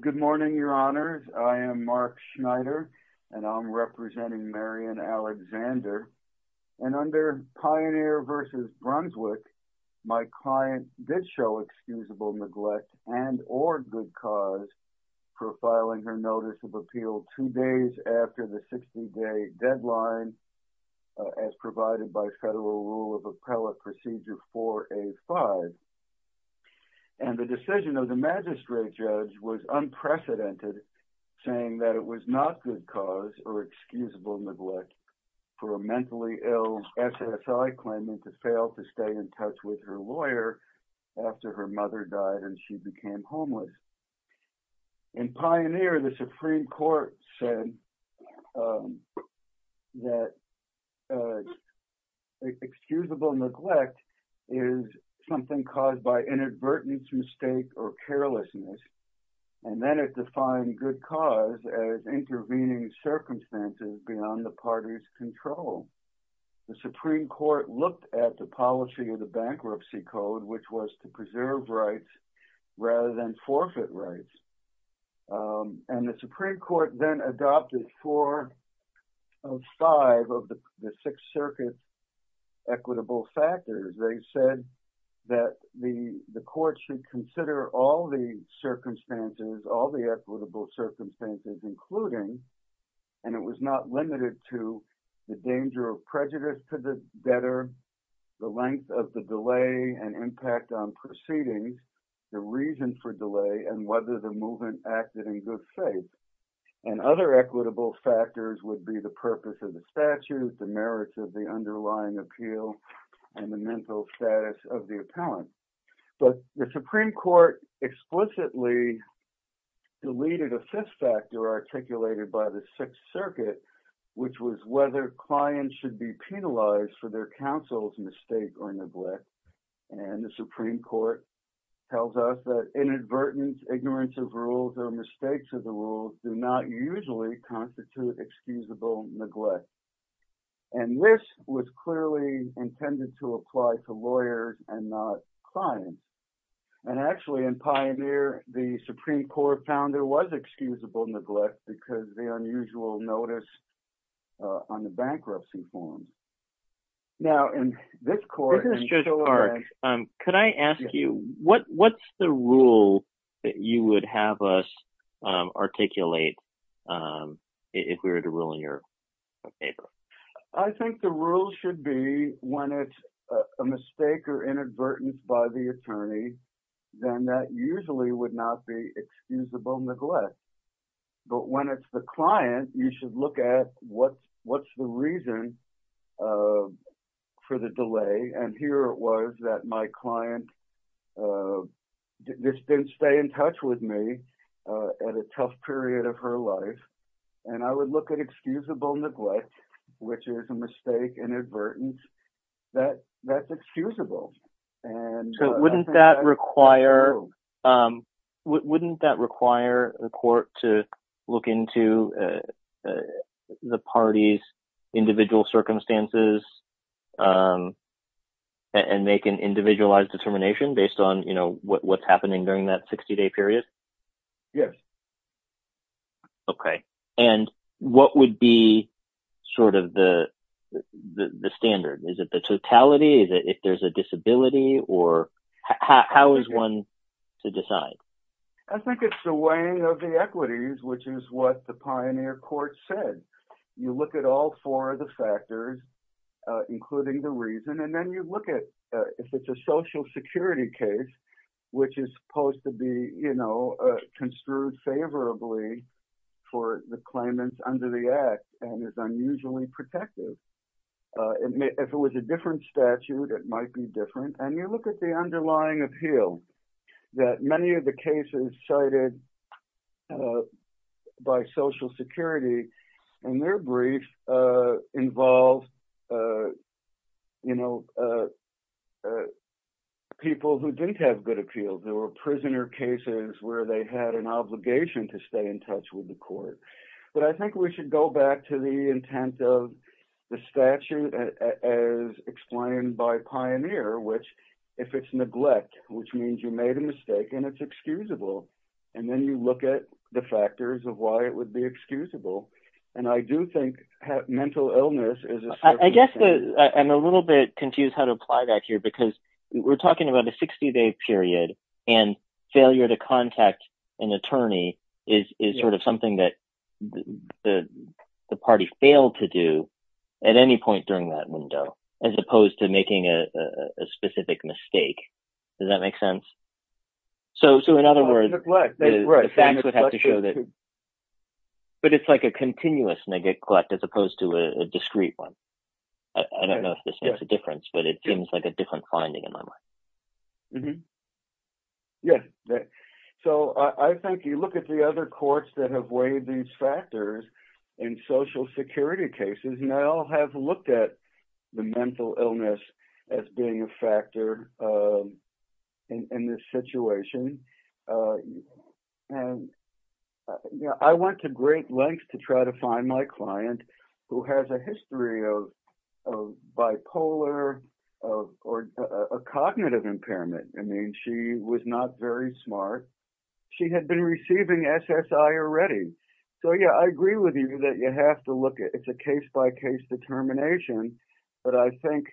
Good morning, your honors. I am Mark Schneider, and I'm representing Marion Alexander. And under Pioneer v. Brunswick, my client did show excusable neglect and or good cause for filing her notice of appeal two days after the 60-day deadline as provided by federal rule of appellate procedure 4A-5. And the decision of the magistrate judge was unprecedented saying that it was not good cause or excusable neglect for a mentally ill SSI claimant to fail to stay in touch with her lawyer after her mother died and she became homeless. In other words, excusable neglect is something caused by inadvertence, mistake, or carelessness. And then it defined good cause as intervening circumstances beyond the party's control. The Supreme Court looked at the policy of the Bankruptcy Code, which was to preserve rather than forfeit rights. And the Supreme Court then adopted four of five of the Sixth Circuit equitable factors. They said that the court should consider all the circumstances, all the equitable circumstances, including, and it was not limited to, the danger of prejudice to the debtor, the length of the delay and impact on proceedings, the reason for delay, and whether the movement acted in good faith. And other equitable factors would be the purpose of the statute, the merits of the underlying appeal, and the mental status of the appellant. But the Supreme Court explicitly deleted a fifth factor articulated by the Sixth Circuit, which was whether clients should be penalized for their counsel's mistake or neglect. And the Supreme Court tells us that inadvertence, ignorance of rules, or mistakes of the rules do not usually constitute excusable neglect. And this was clearly intended to apply to lawyers and not clients. And actually in Pioneer, the Supreme Court found there was excusable neglect because the unusual notice on the bankruptcy form. Now in this court... Judge Clark, could I ask you, what's the rule that you would have us articulate if we were to rule in your paper? I think the rule should be when it's a mistake or inadvertence by the attorney, then that usually would not be excusable neglect. But when it's the client, you should look at what's the reason for the delay. And here it was that my client just didn't stay in touch with me at a tough period of her life. And I would look at excusable neglect, which is a mistake, inadvertence, that's excusable. So wouldn't that require the court to look into the party's individual circumstances and make an individualized determination based on what's happening during that 60-day period? Yes. Okay. And what would be sort of the standard? Is it the totality that if there's a disability or how is one to decide? I think it's the weighing of the equities, which is what the Pioneer court said. You look at all four of the factors, including the reason, and then you look at if it's a social security case, which is supposed to be construed favorably for the claimants under the act and is unusually protective. If it was a different statute, it might be different. And you look at the underlying appeal that many of the cases cited by social security in their brief involved people who didn't have good appeals. There were prisoner cases where they had an obligation to stay in touch with the court. But I think we should go back to the intent of the statute as explained by Pioneer, which if it's neglect, which means you made a mistake and it's excusable. And then you look at the factors of why it would be excusable. And I do think mental illness is a little bit confused how to apply that here, because we're talking about a 60 day period and failure to contact an attorney is sort of something that the party failed to do at any point during that window, as opposed to making a specific mistake. Does that make sense? So, so in other words, the facts would have to show that. But it's like a continuous neglect as opposed to a discrete one. I don't know if this makes a difference, but it seems like a different finding in my mind. Yes. So I think you look at the other courts that have weighed these factors in social security cases, and they all have looked at the mental illness as being a has a history of bipolar or cognitive impairment. I mean, she was not very smart. She had been receiving SSI already. So yeah, I agree with you that you have to look at it's a case by case determination. But I think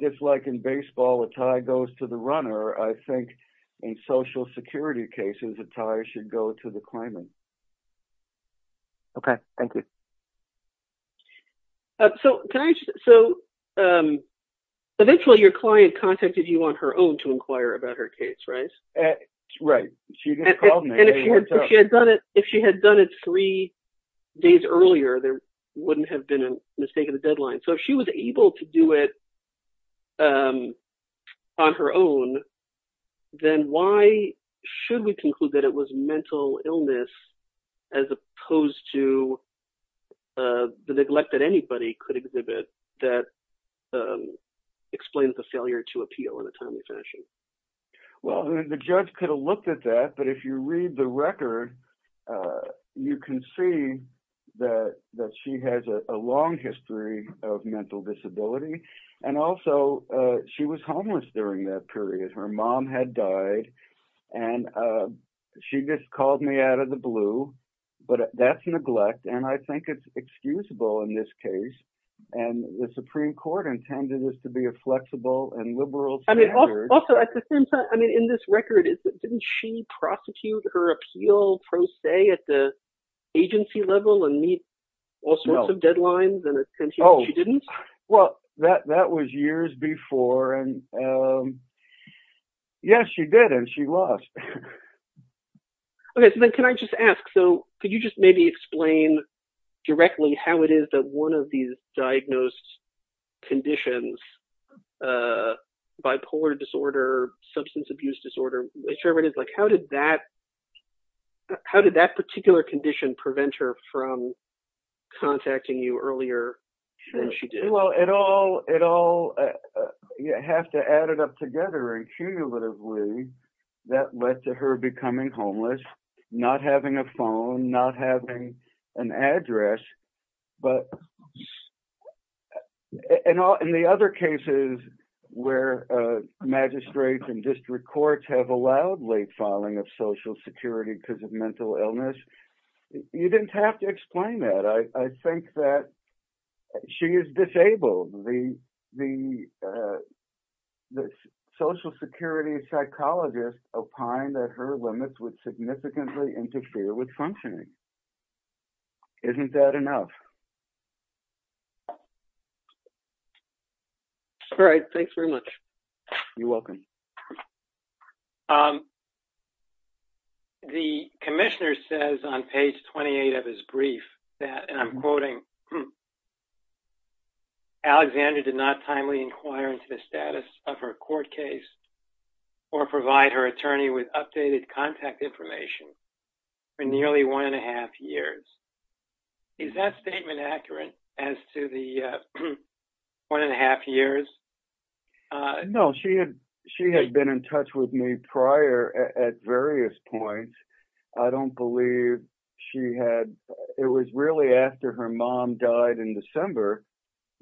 just like in baseball, a tie goes to the runner, I think in social security cases, a tie should go to the claimant. Okay, thank you. So can I just so eventually your client contacted you on her own to inquire about her case, right? Right. And if she had done it, if she had done it three days earlier, there wouldn't have been a mistake in the deadline. So if she was able to do it on her own, then why should we illness as opposed to the neglect that anybody could exhibit that explains the failure to appeal in a timely fashion? Well, the judge could have looked at that. But if you read the record, you can see that that she has a long history of mental disability. And also, she was homeless during that period, her mom had me out of the blue. But that's neglect. And I think it's excusable in this case. And the Supreme Court intended this to be a flexible and liberal. I mean, also, at the same time, I mean, in this record, is that didn't she prosecute her appeal pro se at the agency level and meet all sorts of deadlines? Oh, well, that that was years before. And yes, she did. And she lost. Okay, so then can I just ask, so could you just maybe explain directly how it is that one of these diagnosed conditions, bipolar disorder, substance abuse disorder, whichever it is, like, how did that? How did that particular condition prevent her from contacting you earlier than she did? Well, it all you have to add it up together. And cumulatively, that led to her becoming homeless, not having a phone not having an address. But in the other cases, where magistrates and district courts have allowed late filing of Social Security because of mental illness. You didn't have to explain that. I think that she is disabled. The Social Security psychologist opined that her limits would significantly interfere with functioning. Isn't that enough? All right, thanks very much. You're welcome. Um, the commissioner says on page 28 of his brief that and I'm quoting, Alexander did not timely inquire into the status of her court case, or provide her attorney with updated contact information for nearly one and a half years. Is that statement accurate as to the one and a half years? No, she had, she had been in touch with me prior at various points. I don't believe she had. It was really after her mom died in December.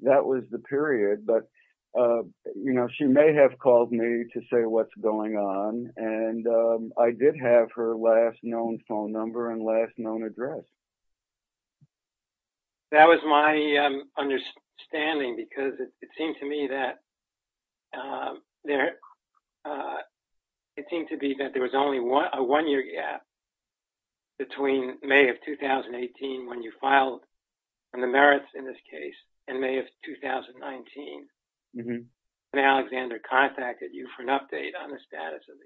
That was the period but you know, she may have called me to say what's going on. And I did have her last known phone number and last known address. That was my understanding because it seemed to me that there, it seemed to be that there was only one year gap between May of 2018, when you filed on the merits in this case, and May of 2019, when Alexander contacted you for an update on the status of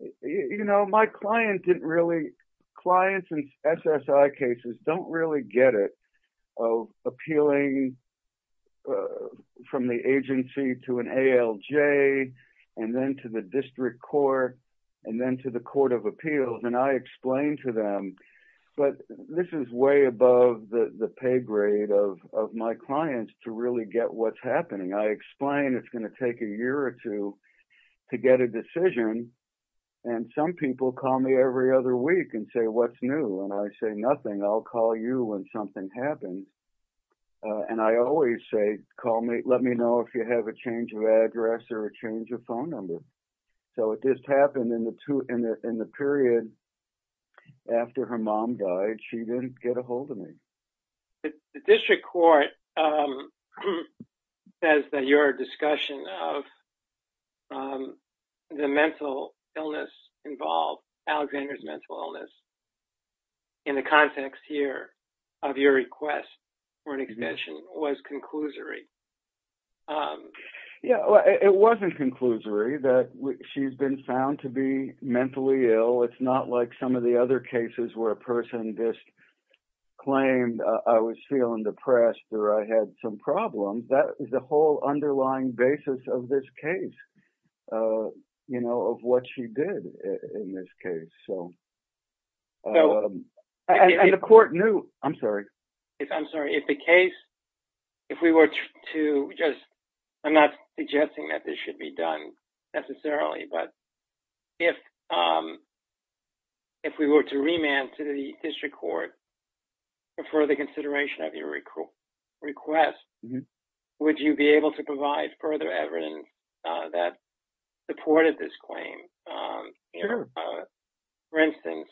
the case. You know, my client didn't really clients and SSI cases don't really get it of appealing from the agency to an ALJ, and then to the district court, and then to the Court of Appeals and I explained to them, but this is way above the pay grade of my clients to really get what's happening. I explained it's going to take a year or two to get a decision. And some people call me every other week and say, what's new? And I say, nothing, I'll call you when something happens. And I always say, call me, let me know if you have a change of address or a change of phone number. So it just happened in the two in the in the period after her mom died, she didn't get ahold of me. The district court says that your discussion of the mental illness involved, Alexander's mental illness, in the context here of your request for an extension was conclusory. Yeah, it wasn't conclusory that she's been found to be mentally ill. It's not like some of the other cases where a person just claimed, I was feeling depressed, or I had some problems. That is the whole underlying basis of this case. You know, of what she did in this case. So the court knew, I'm sorry. If I'm sorry, if the case, if we were to just, I'm not suggesting that this should be done, necessarily. But if, if we were to remand to the district court, for the consideration of your request, would you be able to provide further evidence that supported this claim? For instance,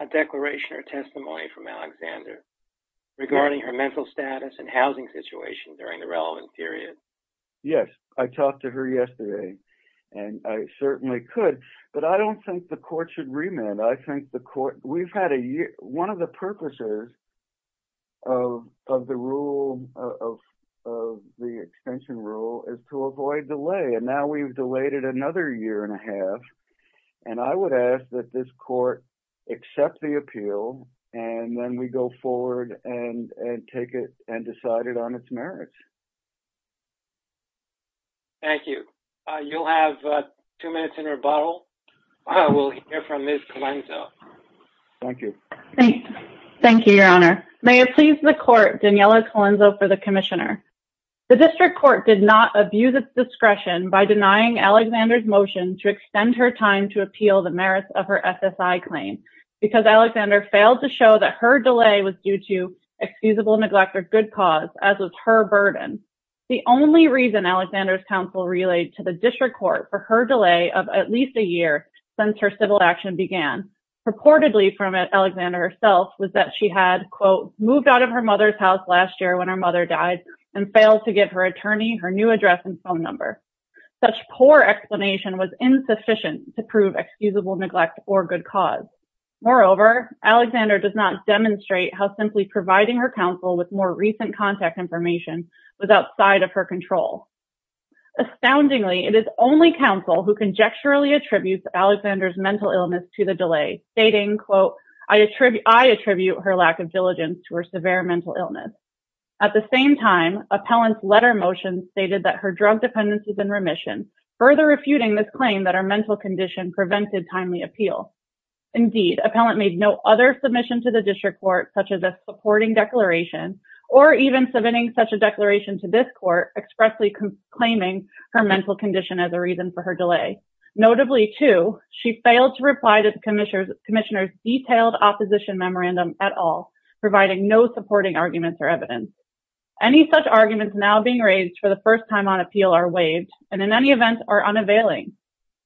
a declaration or testimony from Alexander regarding her mental status and housing situation during the relevant period? Yes, I talked to her yesterday. And I certainly could. But I don't think the court should remand. I think the court, we've had a year, one of the purposes of the rule of the extension rule is to avoid delay. And now we've delayed it another year and a half. And I would ask that this court accept the appeal, and then we go forward and take it and decide it on its merits. Thank you. You'll have two minutes in rebuttal. I will hear from Ms. Colenso. Thank you. Thank you, Your Honor. May it please the court, Daniela Colenso for the Commissioner. The district court did not abuse its discretion by denying Alexander's motion to extend her time to appeal the merits of her SSI claim, because Alexander failed to show that her delay was due to excusable neglect or good cause, as was her burden. The only reason Alexander's counsel relayed to the district court for her delay of at least a year since her civil action began, purportedly from Alexander herself, was that she had, quote, moved out of her mother's house last year when her mother died, and failed to give her attorney her new address and phone number. Such poor explanation was insufficient to prove excusable neglect or good cause. Moreover, Alexander does not demonstrate how simply providing her counsel with more recent contact information was outside of her control. Astoundingly, it is only counsel who conjecturally attributes Alexander's mental illness to the delay, stating, quote, I attribute her lack of diligence to her severe mental illness. At the same time, appellant's letter motion stated that her drug dependencies have been remissioned, further refuting this claim that her mental condition prevented timely appeal. Indeed, appellant made no other submission to the district court such as a supporting declaration, or even submitting such a declaration to this court expressly claiming her mental condition as a reason for her delay. Notably, too, she failed to reply to the commissioner's detailed opposition memorandum at all, providing no supporting arguments or evidence. Any such arguments now being raised for the first time on appeal are waived, and in any event, are unavailing.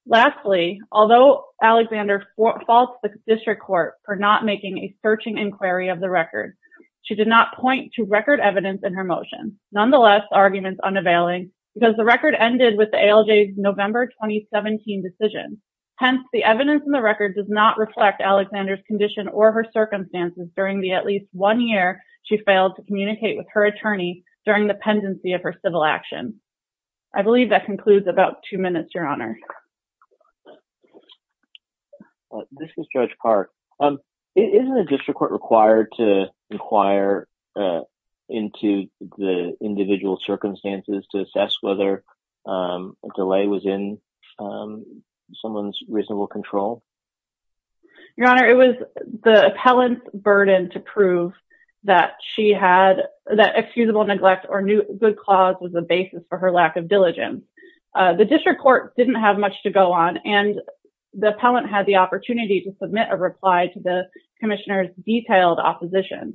Lastly, although Alexander faults the district court for not making a searching inquiry of the record, she did not point to record evidence in her motion, nonetheless, arguments unavailing, because the record ended with the ALJ's November 2017 decision. Hence, the evidence in the record does not reflect Alexander's condition or her circumstances during the at least one year she failed to make a search inquiry of the record, or the agency of her civil action. I believe that concludes about two minutes, Your Honor. This is Judge Park. Isn't a district court required to inquire into the individual's circumstances to assess whether a delay was in someone's reasonable control? Your Honor, it was the appellant's burden to prove that she had that excusable neglect or knew good cause was a basis for her lack of diligence. The district court didn't have much to go on, and the appellant had the opportunity to submit a reply to the commissioner's detailed opposition,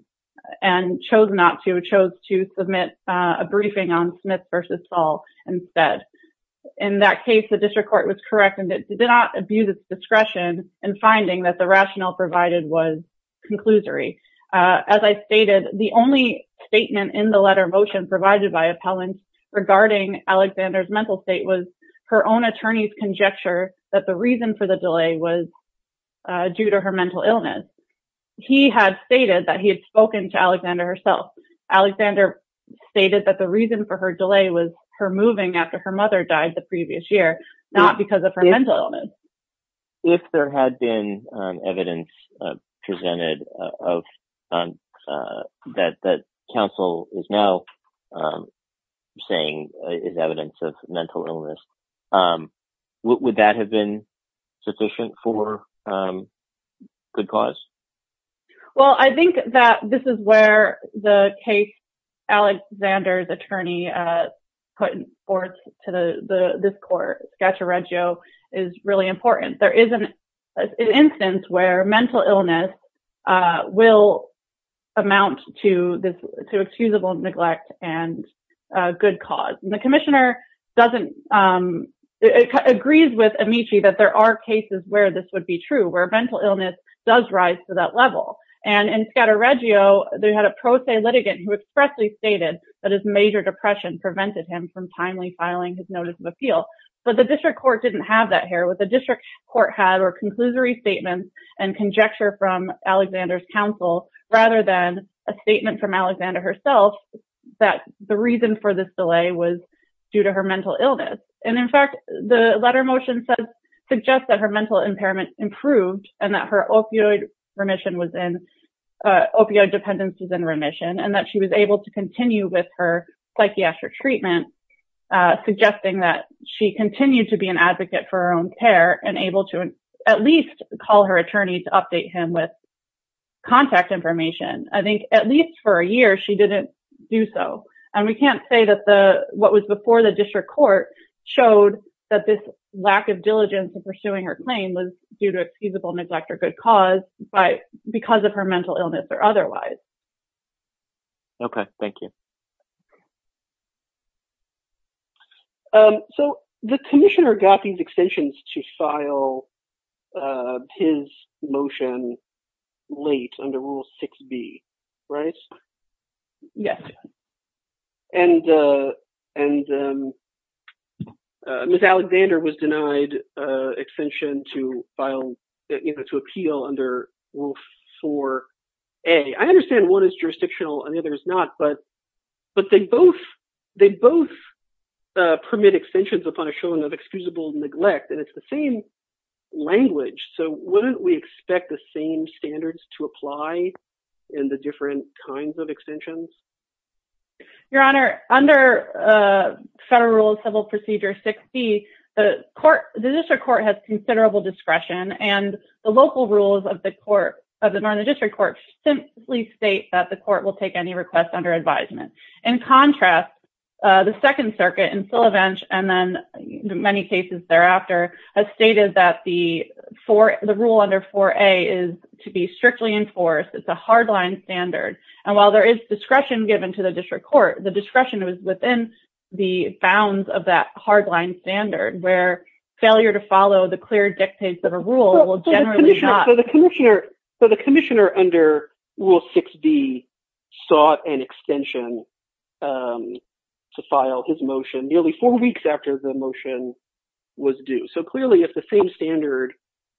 and chose not to, chose to submit a briefing on Smith versus Fall instead. In that case, the rationale provided was conclusory. As I stated, the only statement in the letter of motion provided by appellants regarding Alexander's mental state was her own attorney's conjecture that the reason for the delay was due to her mental illness. He had stated that he had spoken to Alexander herself. Alexander stated that the reason for her delay was her moving after her mother died the If there had been evidence presented of, that counsel is now saying is evidence of mental illness, would that have been sufficient for good cause? Well, I think that this is where the case Alexander's attorney put forth to this court, scaturreggio, is really important. There is an instance where mental illness will amount to excusable neglect and good cause. And the commissioner doesn't, agrees with Amici that there are cases where this would be true, where mental illness does rise to that level. And in scaturreggio, they had a pro se litigant who expressly stated that his major depression prevented him from timely filing his notice of appeal. But the district court didn't have that here. What the district court had were conclusory statements and conjecture from Alexander's counsel, rather than a statement from And that her opioid remission was in, opioid dependence was in remission, and that she was able to continue with her psychiatric treatment, suggesting that she continued to be an advocate for her own care and able to at least call her attorney to update him with contact information. I think at least for a year, she didn't do so. And we can't say that the what was before the district court showed that this kind of diligence in pursuing her claim was due to excusable neglect or good cause, but because of her mental illness or otherwise. Okay, thank you. So the commissioner got these extensions to file his motion late under Rule 6B, right? Yes. And Ms. Alexander was denied extension to file, to appeal under Rule 4A. I understand one is jurisdictional and the other is not, but they both permit extensions upon a showing of excusable neglect, and it's the same language. So wouldn't we expect the same standards to apply in the different kinds of extensions? Your Honor, under Federal Rule of Civil Procedure 6B, the court, the district court has considerable discretion and the local rules of the court of the Northern District Court simply state that the court will take any request under advisement. In contrast, the Second Circuit in And while there is discretion given to the district court, the discretion was within the bounds of that hardline standard where failure to follow the clear dictates of a rule will generally not. So the commissioner under Rule 6B sought an extension to file his motion nearly four weeks after the motion was due. So clearly, if the same standard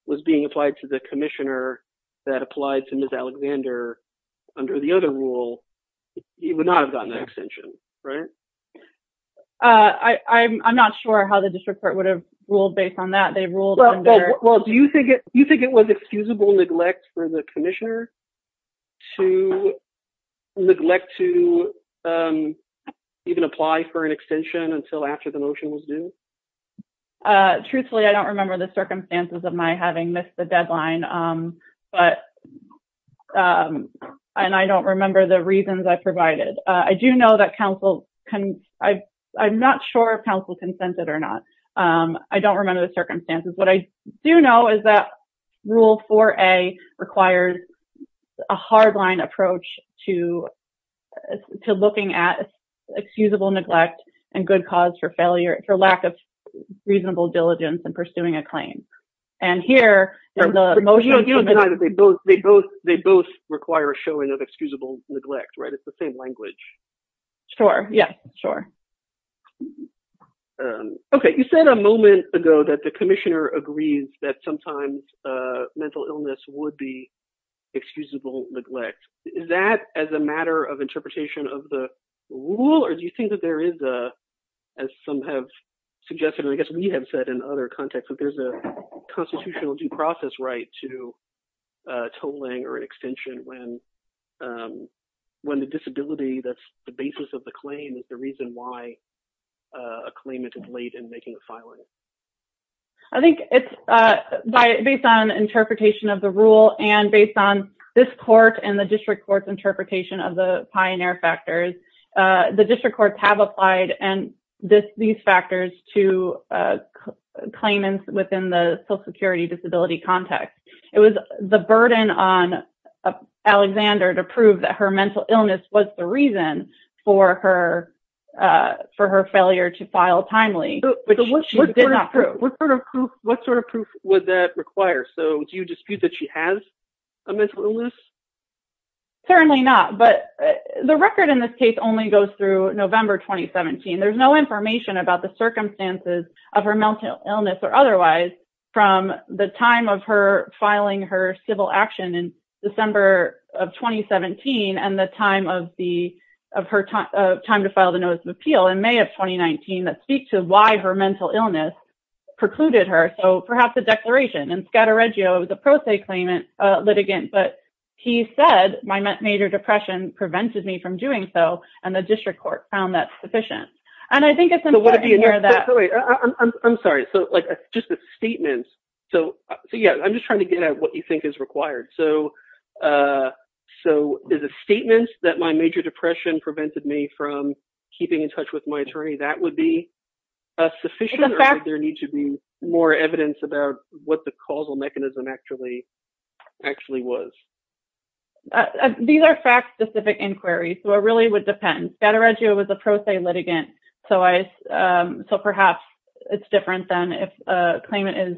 was being applied to the commissioner that applied to Ms. Alexander under the other rule, he would not have gotten that extension, right? I'm not sure how the district court would have ruled based on that. They ruled under... Well, do you think it was excusable neglect for the commissioner to neglect to even apply for an extension until after the motion was due? Truthfully, I don't remember the circumstances of my having missed the deadline, and I don't remember the reasons I provided. I do know that counsel... I'm not sure counsel consented or not. I don't remember the circumstances. What I do know is that Rule 4A requires a hardline approach to looking at excusable neglect and good cause for failure, for lack of reasonable diligence in pursuing a claim. And here... You don't deny that they both require a showing of excusable neglect, right? It's the same language. Sure, yeah, sure. Okay, you said a moment ago that the commissioner agrees that sometimes mental illness would be excusable neglect. Is that as a matter of interpretation of the rule, or do you think that there is, as some have suggested, and I guess we have said in other contexts, that there's a constitutional due process right to tolling or an extension when the disability that's the basis of the claim is the reason why a claimant is late in making a filing? I think it's based on interpretation of the rule and based on this court and the district court's interpretation of the pioneer factors. The district courts have applied these factors to claimants within the Social Security disability context. It was the burden on Alexander to prove that her mental illness was the reason for her for her failure to file timely, which she did not prove. What sort of proof would that require? So do you dispute that she has a mental illness? Certainly not, but the record in this case only goes through November 2017. There's no information about the circumstances of her mental illness or otherwise from the time of her filing her civil action in December of 2017 and the time of her time to file the notice of appeal in May of 2019 that speak to why her mental illness precluded her. So perhaps the declaration in Scattereggio, the pro se claimant litigant, but he said my major depression prevented me from doing so. And the district court found that sufficient. And I think it's important to hear that. I'm sorry. So just the statements. So, yeah, I'm just trying to get at what you think is required. So so is a statement that my major depression prevented me from keeping in touch with my attorney. That would be sufficient. There needs to be more evidence about what the causal mechanism actually actually was. These are fact specific inquiries. So it really would depend. Scattereggio was a pro se litigant. So I so perhaps it's different than if a claimant is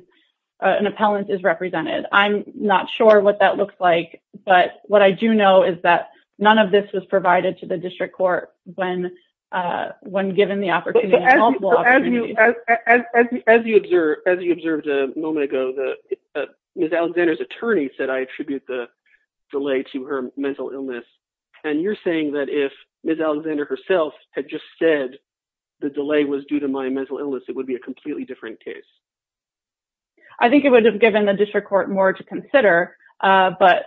an appellant is represented. I'm not sure what that looks like. But what I do know is that none of this was provided to the district court when when given the opportunity. As you observe, as you observed a moment ago, Ms. Alexander's attorney said I attribute the delay to her mental illness. And you're saying that if Ms. Alexander herself had just said the delay was due to my mental illness, it would be a completely different case. I think it would have given the district court more to consider. But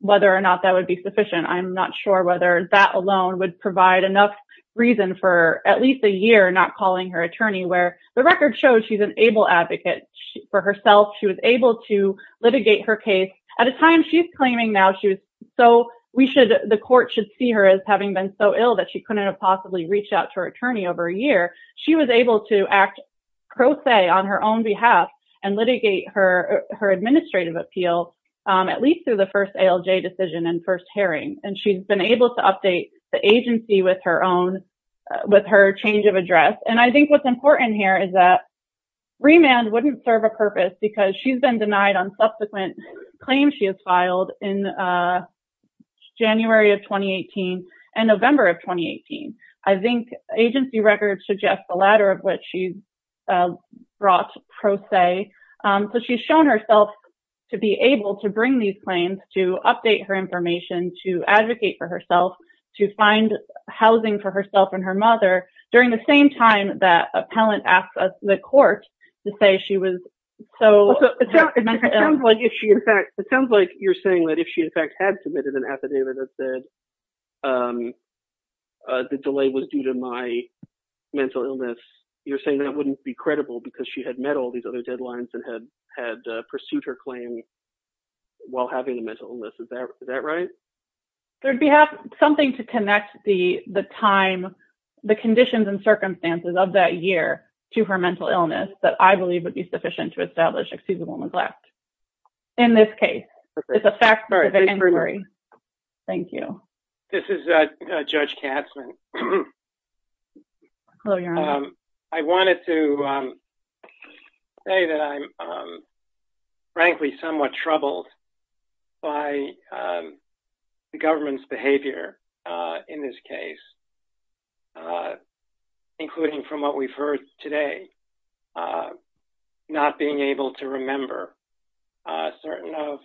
whether or not that would be sufficient, I'm not sure whether that alone would provide enough reason for at least a year not calling her attorney where the record shows she's an able advocate for herself. She was able to litigate her case at a time she's claiming now. She was so we should the court should see her as having been so ill that she couldn't have possibly reached out to her attorney over a year. She was able to act on her own behalf and litigate her her administrative appeal, at least through the first decision and first hearing. And she's been able to update the agency with her own with her change of address. And I think what's important here is that remand wouldn't serve a purpose because she's been denied on subsequent claims. She has filed in January of twenty eighteen and November of twenty eighteen. I think agency records suggest the latter of which she's brought pro se. So she's shown herself to be able to bring these claims, to update her information, to advocate for herself, to find housing for herself and her mother. During the same time that appellant asked the court to say she was so it sounds like if she in fact it sounds like you're saying that if she in fact had submitted an affidavit that the delay was due to my mental illness, you're saying that wouldn't be credible because she had met all these other deadlines and had had pursued her claim while having a mental illness. Is that right? There'd be something to connect the the time, the conditions and circumstances of that year to her mental illness that I believe would be sufficient to establish excusable neglect. In this case, it's a fact. Thank you. This is Judge Katzmann. I wanted to say that I'm frankly somewhat troubled by the government's behavior in this case, including from what we've heard today, not being able to remember certain of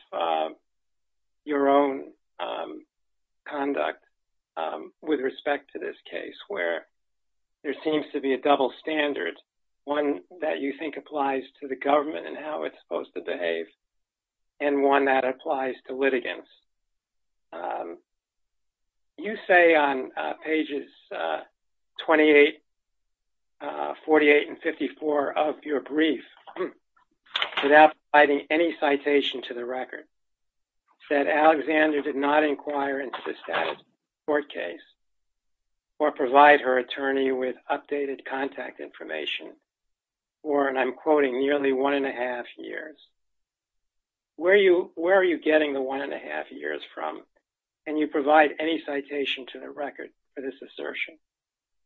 your own conduct with respect to this case where there seems to be a double standard, one that you think applies to the government and how it's supposed to behave and one that applies to litigants. You say on pages 28, 48 and 54 of your brief without writing any citation to the record said Alexander did not inquire into the status court case or provide her attorney with updated contact information or and I'm quoting nearly one and a half years. Where are you getting the one and a half years from and you provide any citation to the record for this assertion?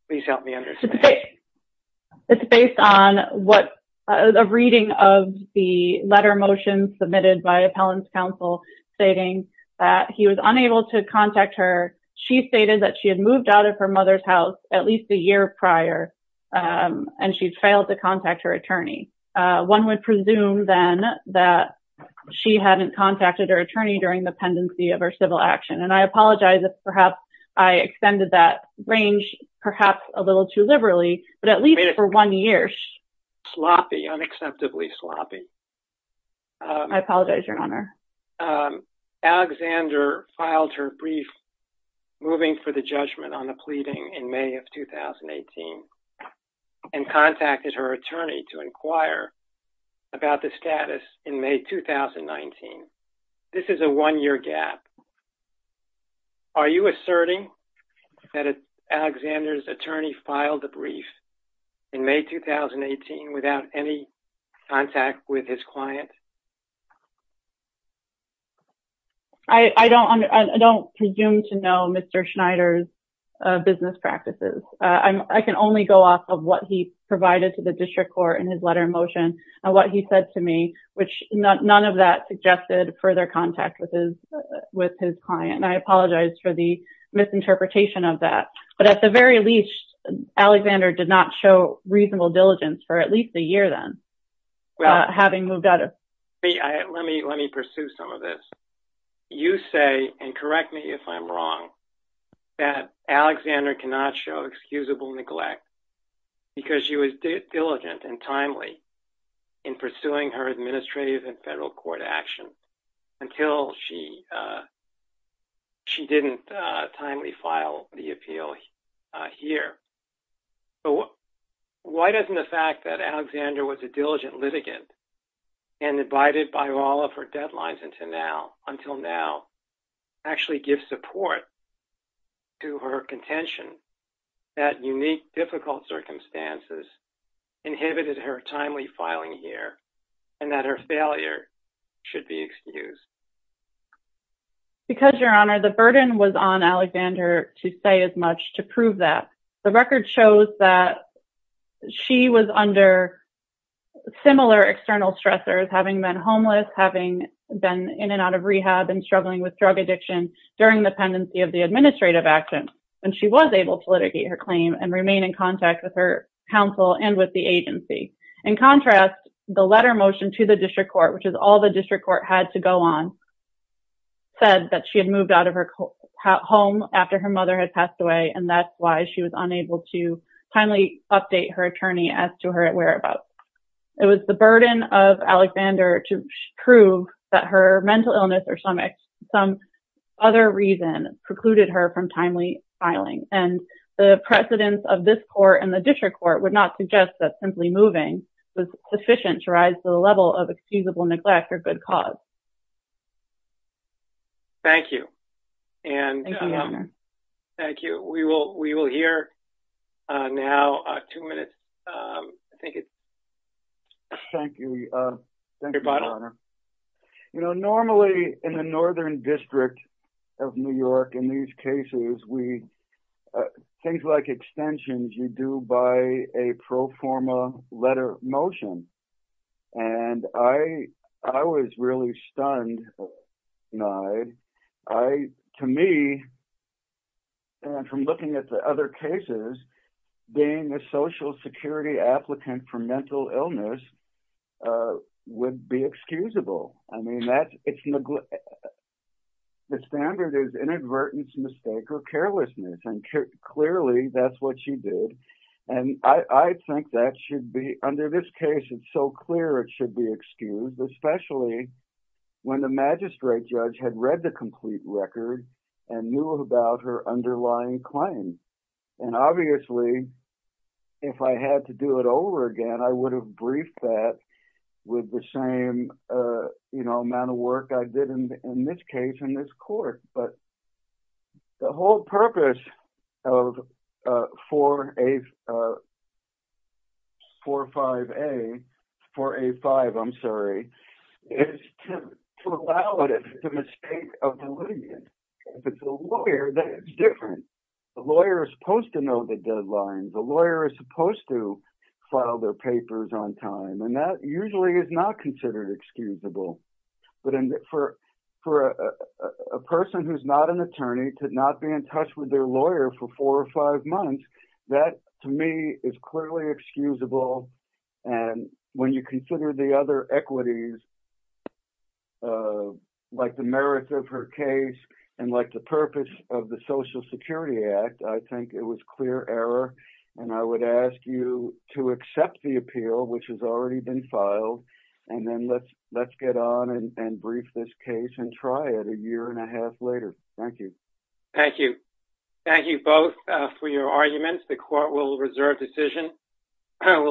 Please help me understand. It's based on what a reading of the letter motion submitted by appellant's counsel stating that he was unable to contact her. She stated that she had moved out of her mother's house at least a year prior and she failed to contact her attorney. One would presume then that she hadn't contacted her attorney during the pendency of her civil action. And I apologize if perhaps I extended that range, perhaps a little too liberally, but at least for one year, sloppy, unacceptably sloppy. I apologize, your honor. Alexander filed her brief moving for the judgment on the pleading in May of 2018 and contacted her attorney to inquire about the status in May 2019. This is a one year gap. Are you asserting that Alexander's attorney filed the brief in May 2018 without any contact with his client? I don't presume to know Mr. Schneider's business practices. I can only go off of what he provided to the district court in his letter motion and what he said to me, which none of that suggested further contact with his client. And I apologize for the misinterpretation of that. But at the very least, Alexander did not show reasonable diligence for at least a year then. Let me pursue some of this. You say, and correct me if I'm wrong, that Alexander cannot show excusable neglect because she was diligent and timely in pursuing her administrative and federal court action until she didn't timely file the appeal here. Why doesn't the fact that Alexander was a diligent litigant and abided by all of her deadlines until now actually give support to her contention that unique difficult circumstances inhibited her timely filing here and that her failure should be excused? Because, your honor, the burden was on Alexander to say as much to prove that. The record shows that she was under similar external stressors, having been homeless, having been in and out of rehab, and struggling with drug addiction during the pendency of the administrative action. And she was able to litigate her claim and remain in contact with her counsel and with the agency. In contrast, the letter motion to the district court, which is all the district court had to go on, said that she had moved out of her home after her mother had passed away, and that's why she was unable to timely update her attorney as to her whereabouts. It was the burden of Alexander to prove that her mental illness or some other reason precluded her from timely filing. And the precedence of this court and the district court would not suggest that simply moving was sufficient to rise to the level of excusable neglect or good cause. Thank you. Thank you, your honor. Thank you. We will hear now two minutes. Thank you. Thank you, your honor. You know, normally in the Northern District of New York, in these cases, things like extensions, you do by a pro forma letter motion. And I was really stunned, Nide. To me, and from looking at the other cases, being a social security applicant for mental illness would be excusable. I mean, the standard is inadvertence, mistake or carelessness. And clearly, that's what she did. And I think that should be, under this case, it's so clear it should be excused, especially when the magistrate judge had read the complete record and knew about her underlying claim. And obviously, if I had to do it over again, I would have briefed that with the same amount of work I did in this case in this court. But the whole purpose of 4-5-A, 4-A-5, I'm sorry, is to allow it if it's a mistake of delineation. If it's a lawyer, then it's different. The lawyer is supposed to know the deadlines. The lawyer is supposed to file their papers on time. And that usually is not considered excusable. But for a person who's not an attorney to not be in touch with their lawyer for 4-5 months, that, to me, is clearly excusable. And when you consider the other equities, like the merits of her case and like the purpose of the Social Security Act, I think it was clear error. And I would ask you to accept the appeal, which has already been filed, and then let's get on and brief this case and try it a year and a half later. Thank you. Thank you. Thank you both for your arguments. The court will reserve decision.